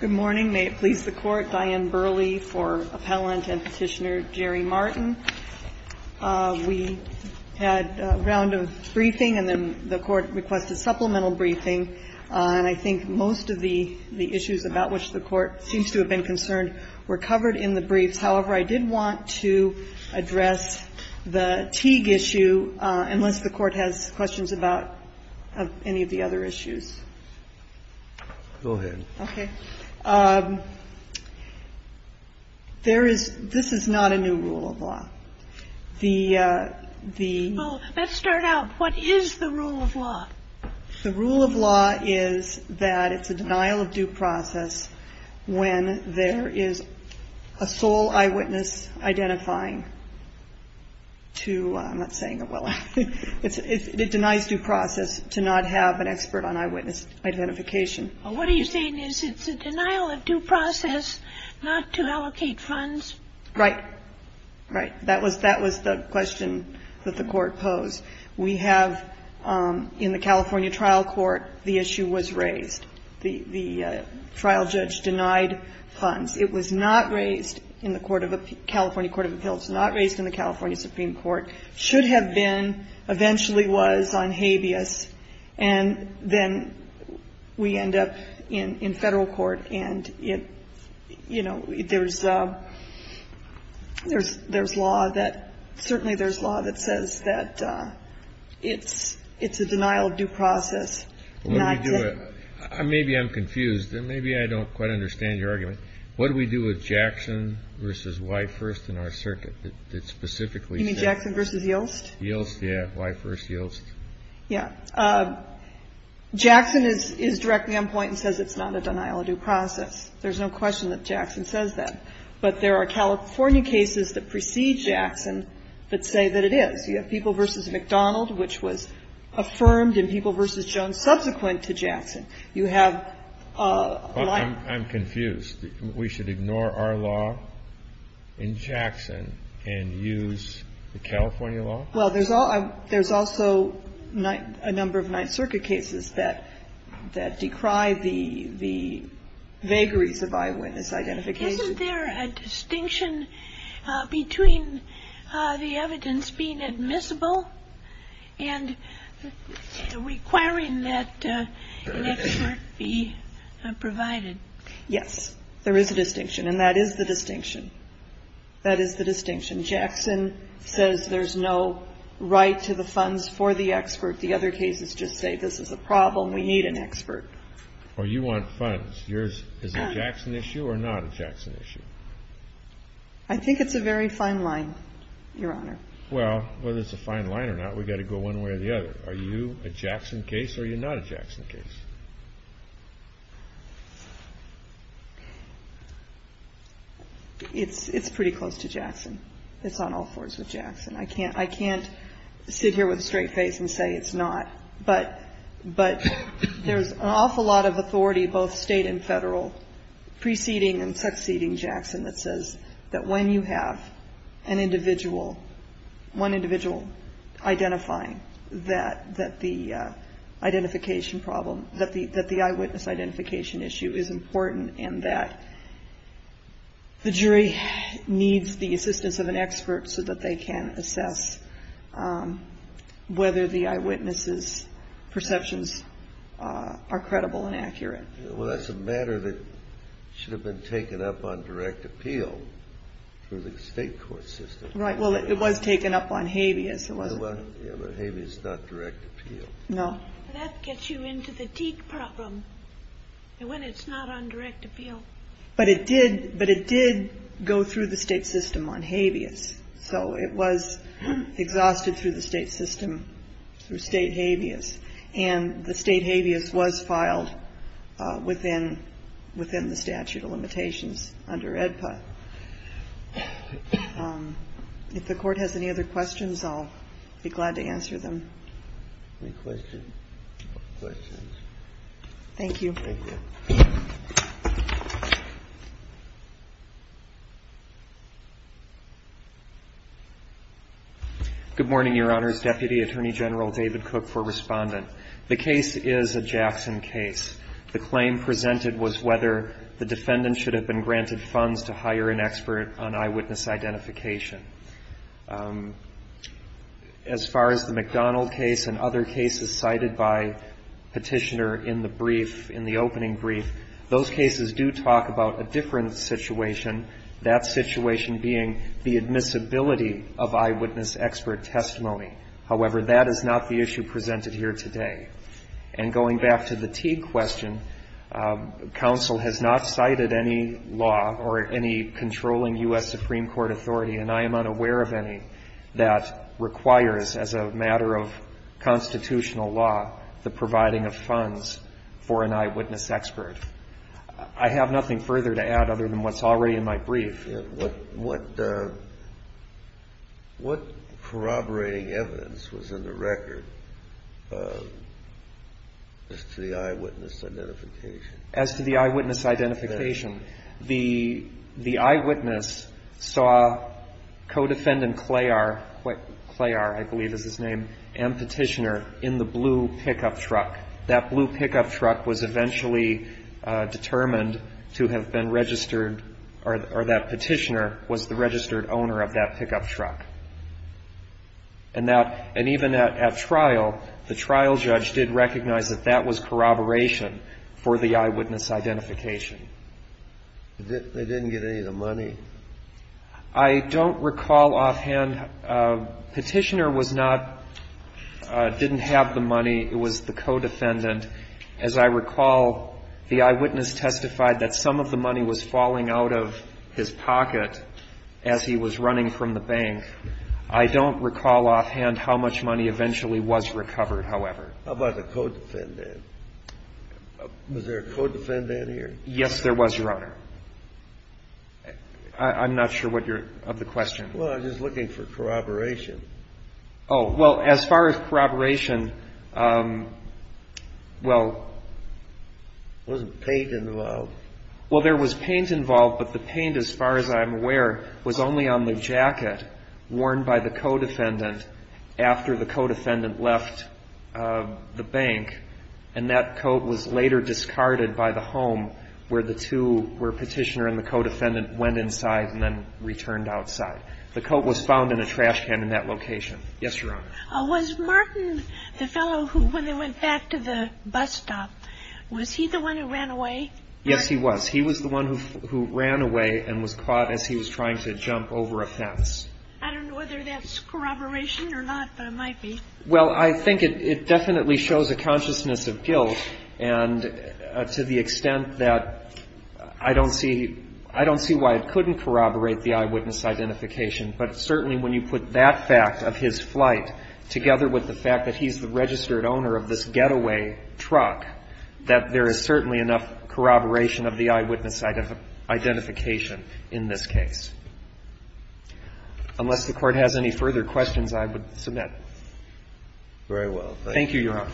Good morning. May it please the Court, Diane Burley for Appellant and Petitioner Jerry Martin. We had a round of briefing, and then the Court requested supplemental briefing, and I think most of the issues about which the Court seems to have been concerned were covered in the briefs. However, I did want to address the Teague issue, unless the Court has questions about any of the other issues. Go ahead. Okay. There is – this is not a new rule of law. The – the – Well, let's start out. What is the rule of law? The rule of law is that it's a denial of due process when there is a sole eyewitness identifying to – I'm not saying it well – it denies due process to not have an eyewitness identification. Well, what are you saying is it's a denial of due process not to allocate funds? Right. Right. That was – that was the question that the Court posed. We have – in the California trial court, the issue was raised. The – the trial judge denied funds. It was not raised in the court of – California Court of Appeals. Not raised in the California Supreme Court. And then we end up in – in Federal court, and it – you know, there's a – there's – there's law that – certainly there's law that says that it's – it's a denial of due process not to – Well, what do we do – maybe I'm confused, and maybe I don't quite understand your argument. What do we do with Jackson v. Whitehurst in our circuit that specifically You mean Jackson v. Yilst? Yilst, yeah. Whitehurst, Yilst. Yeah. Jackson is – is directly on point and says it's not a denial of due process. There's no question that Jackson says that. But there are California cases that precede Jackson that say that it is. You have People v. McDonald, which was affirmed, and People v. Jones subsequent to Jackson. You have a lot of – I'm confused. We should ignore our law in Jackson and use the California law? Well, there's also a number of Ninth Circuit cases that decry the vagaries of eyewitness identification. Isn't there a distinction between the evidence being admissible and requiring that an expert be provided? Yes, there is a distinction, and that is the distinction. That is the distinction. Jackson says there's no right to the funds for the expert. The other cases just say this is a problem. We need an expert. Well, you want funds. Is it a Jackson issue or not a Jackson issue? I think it's a very fine line, Your Honor. Well, whether it's a fine line or not, we've got to go one way or the other. Are you a Jackson case or are you not a Jackson case? It's pretty close to Jackson. It's on all fours with Jackson. I can't sit here with a straight face and say it's not, but there's an awful lot of authority, both state and federal, preceding and succeeding Jackson that says that when you have an individual, one individual identifying that the identification problem, that the eyewitness identification issue is important and that the jury needs the assistance of an expert so that they can assess whether the eyewitness's perceptions are credible and accurate. Well, that's a matter that should have been taken up on direct appeal through the state court system. Right. Well, it was taken up on habeas. It wasn't. Yeah, but habeas is not direct appeal. No. That gets you into the Deke problem when it's not on direct appeal. But it did go through the state system on habeas. So it was exhausted through the state system, through state habeas. And the state habeas was filed within the statute of limitations under AEDPA. If the court has any other questions, I'll be glad to answer them. Any questions? Thank you. Thank you. Good morning, Your Honors. Deputy Attorney General David Cook for Respondent. The case is a Jackson case. The claim presented was whether the defendant should have been granted funds to hire an expert on eyewitness identification. As far as the McDonald case and other cases cited by Petitioner in the brief, in the opening brief, those cases do talk about a different situation, that situation being the admissibility of eyewitness expert testimony. However, that is not the issue presented here today. And going back to the Teague question, counsel has not cited any law or any controlling U.S. Supreme Court authority, and I am unaware of any, that requires as a matter of constitutional law the providing of funds for an eyewitness expert. I have nothing further to add other than what's already in my brief. What corroborating evidence was in the record as to the eyewitness identification? As to the eyewitness identification, the eyewitness saw co-defendant Clayar, Clayar I believe is his name, and Petitioner in the blue pickup truck. That blue pickup truck was eventually determined to have been registered, or that Petitioner was the registered owner of that pickup truck. And that, and even at trial, the trial judge did recognize that that was corroboration for the eyewitness identification. They didn't get any of the money? I don't recall offhand. Petitioner was not, didn't have the money. It was the co-defendant. As I recall, the eyewitness testified that some of the money was falling out of his pocket as he was running from the bank. I don't recall offhand how much money eventually was recovered, however. How about the co-defendant? Was there a co-defendant here? Yes, there was, Your Honor. I'm not sure what your, of the question. Well, I'm just looking for corroboration. Oh, well, as far as corroboration, well. Wasn't paint involved? Well, there was paint involved, but the paint, as far as I'm aware, was only on the jacket worn by the co-defendant after the co-defendant left the bank. And that coat was later discarded by the home where the two, where Petitioner and the co-defendant went inside and then returned outside. The coat was found in a trash can in that location. Yes, Your Honor. Was Martin, the fellow who, when they went back to the bus stop, was he the one who ran away? Yes, he was. He was the one who ran away and was caught as he was trying to jump over a fence. I don't know whether that's corroboration or not, but it might be. Well, I think it definitely shows a consciousness of guilt and to the extent that I don't see why it couldn't corroborate the eyewitness identification. But certainly when you put that fact of his flight together with the fact that he's the registered owner of this getaway truck, that there is certainly enough corroboration of the eyewitness identification in this case. Unless the Court has any further questions, I would submit. Very well. Thank you, Your Honor.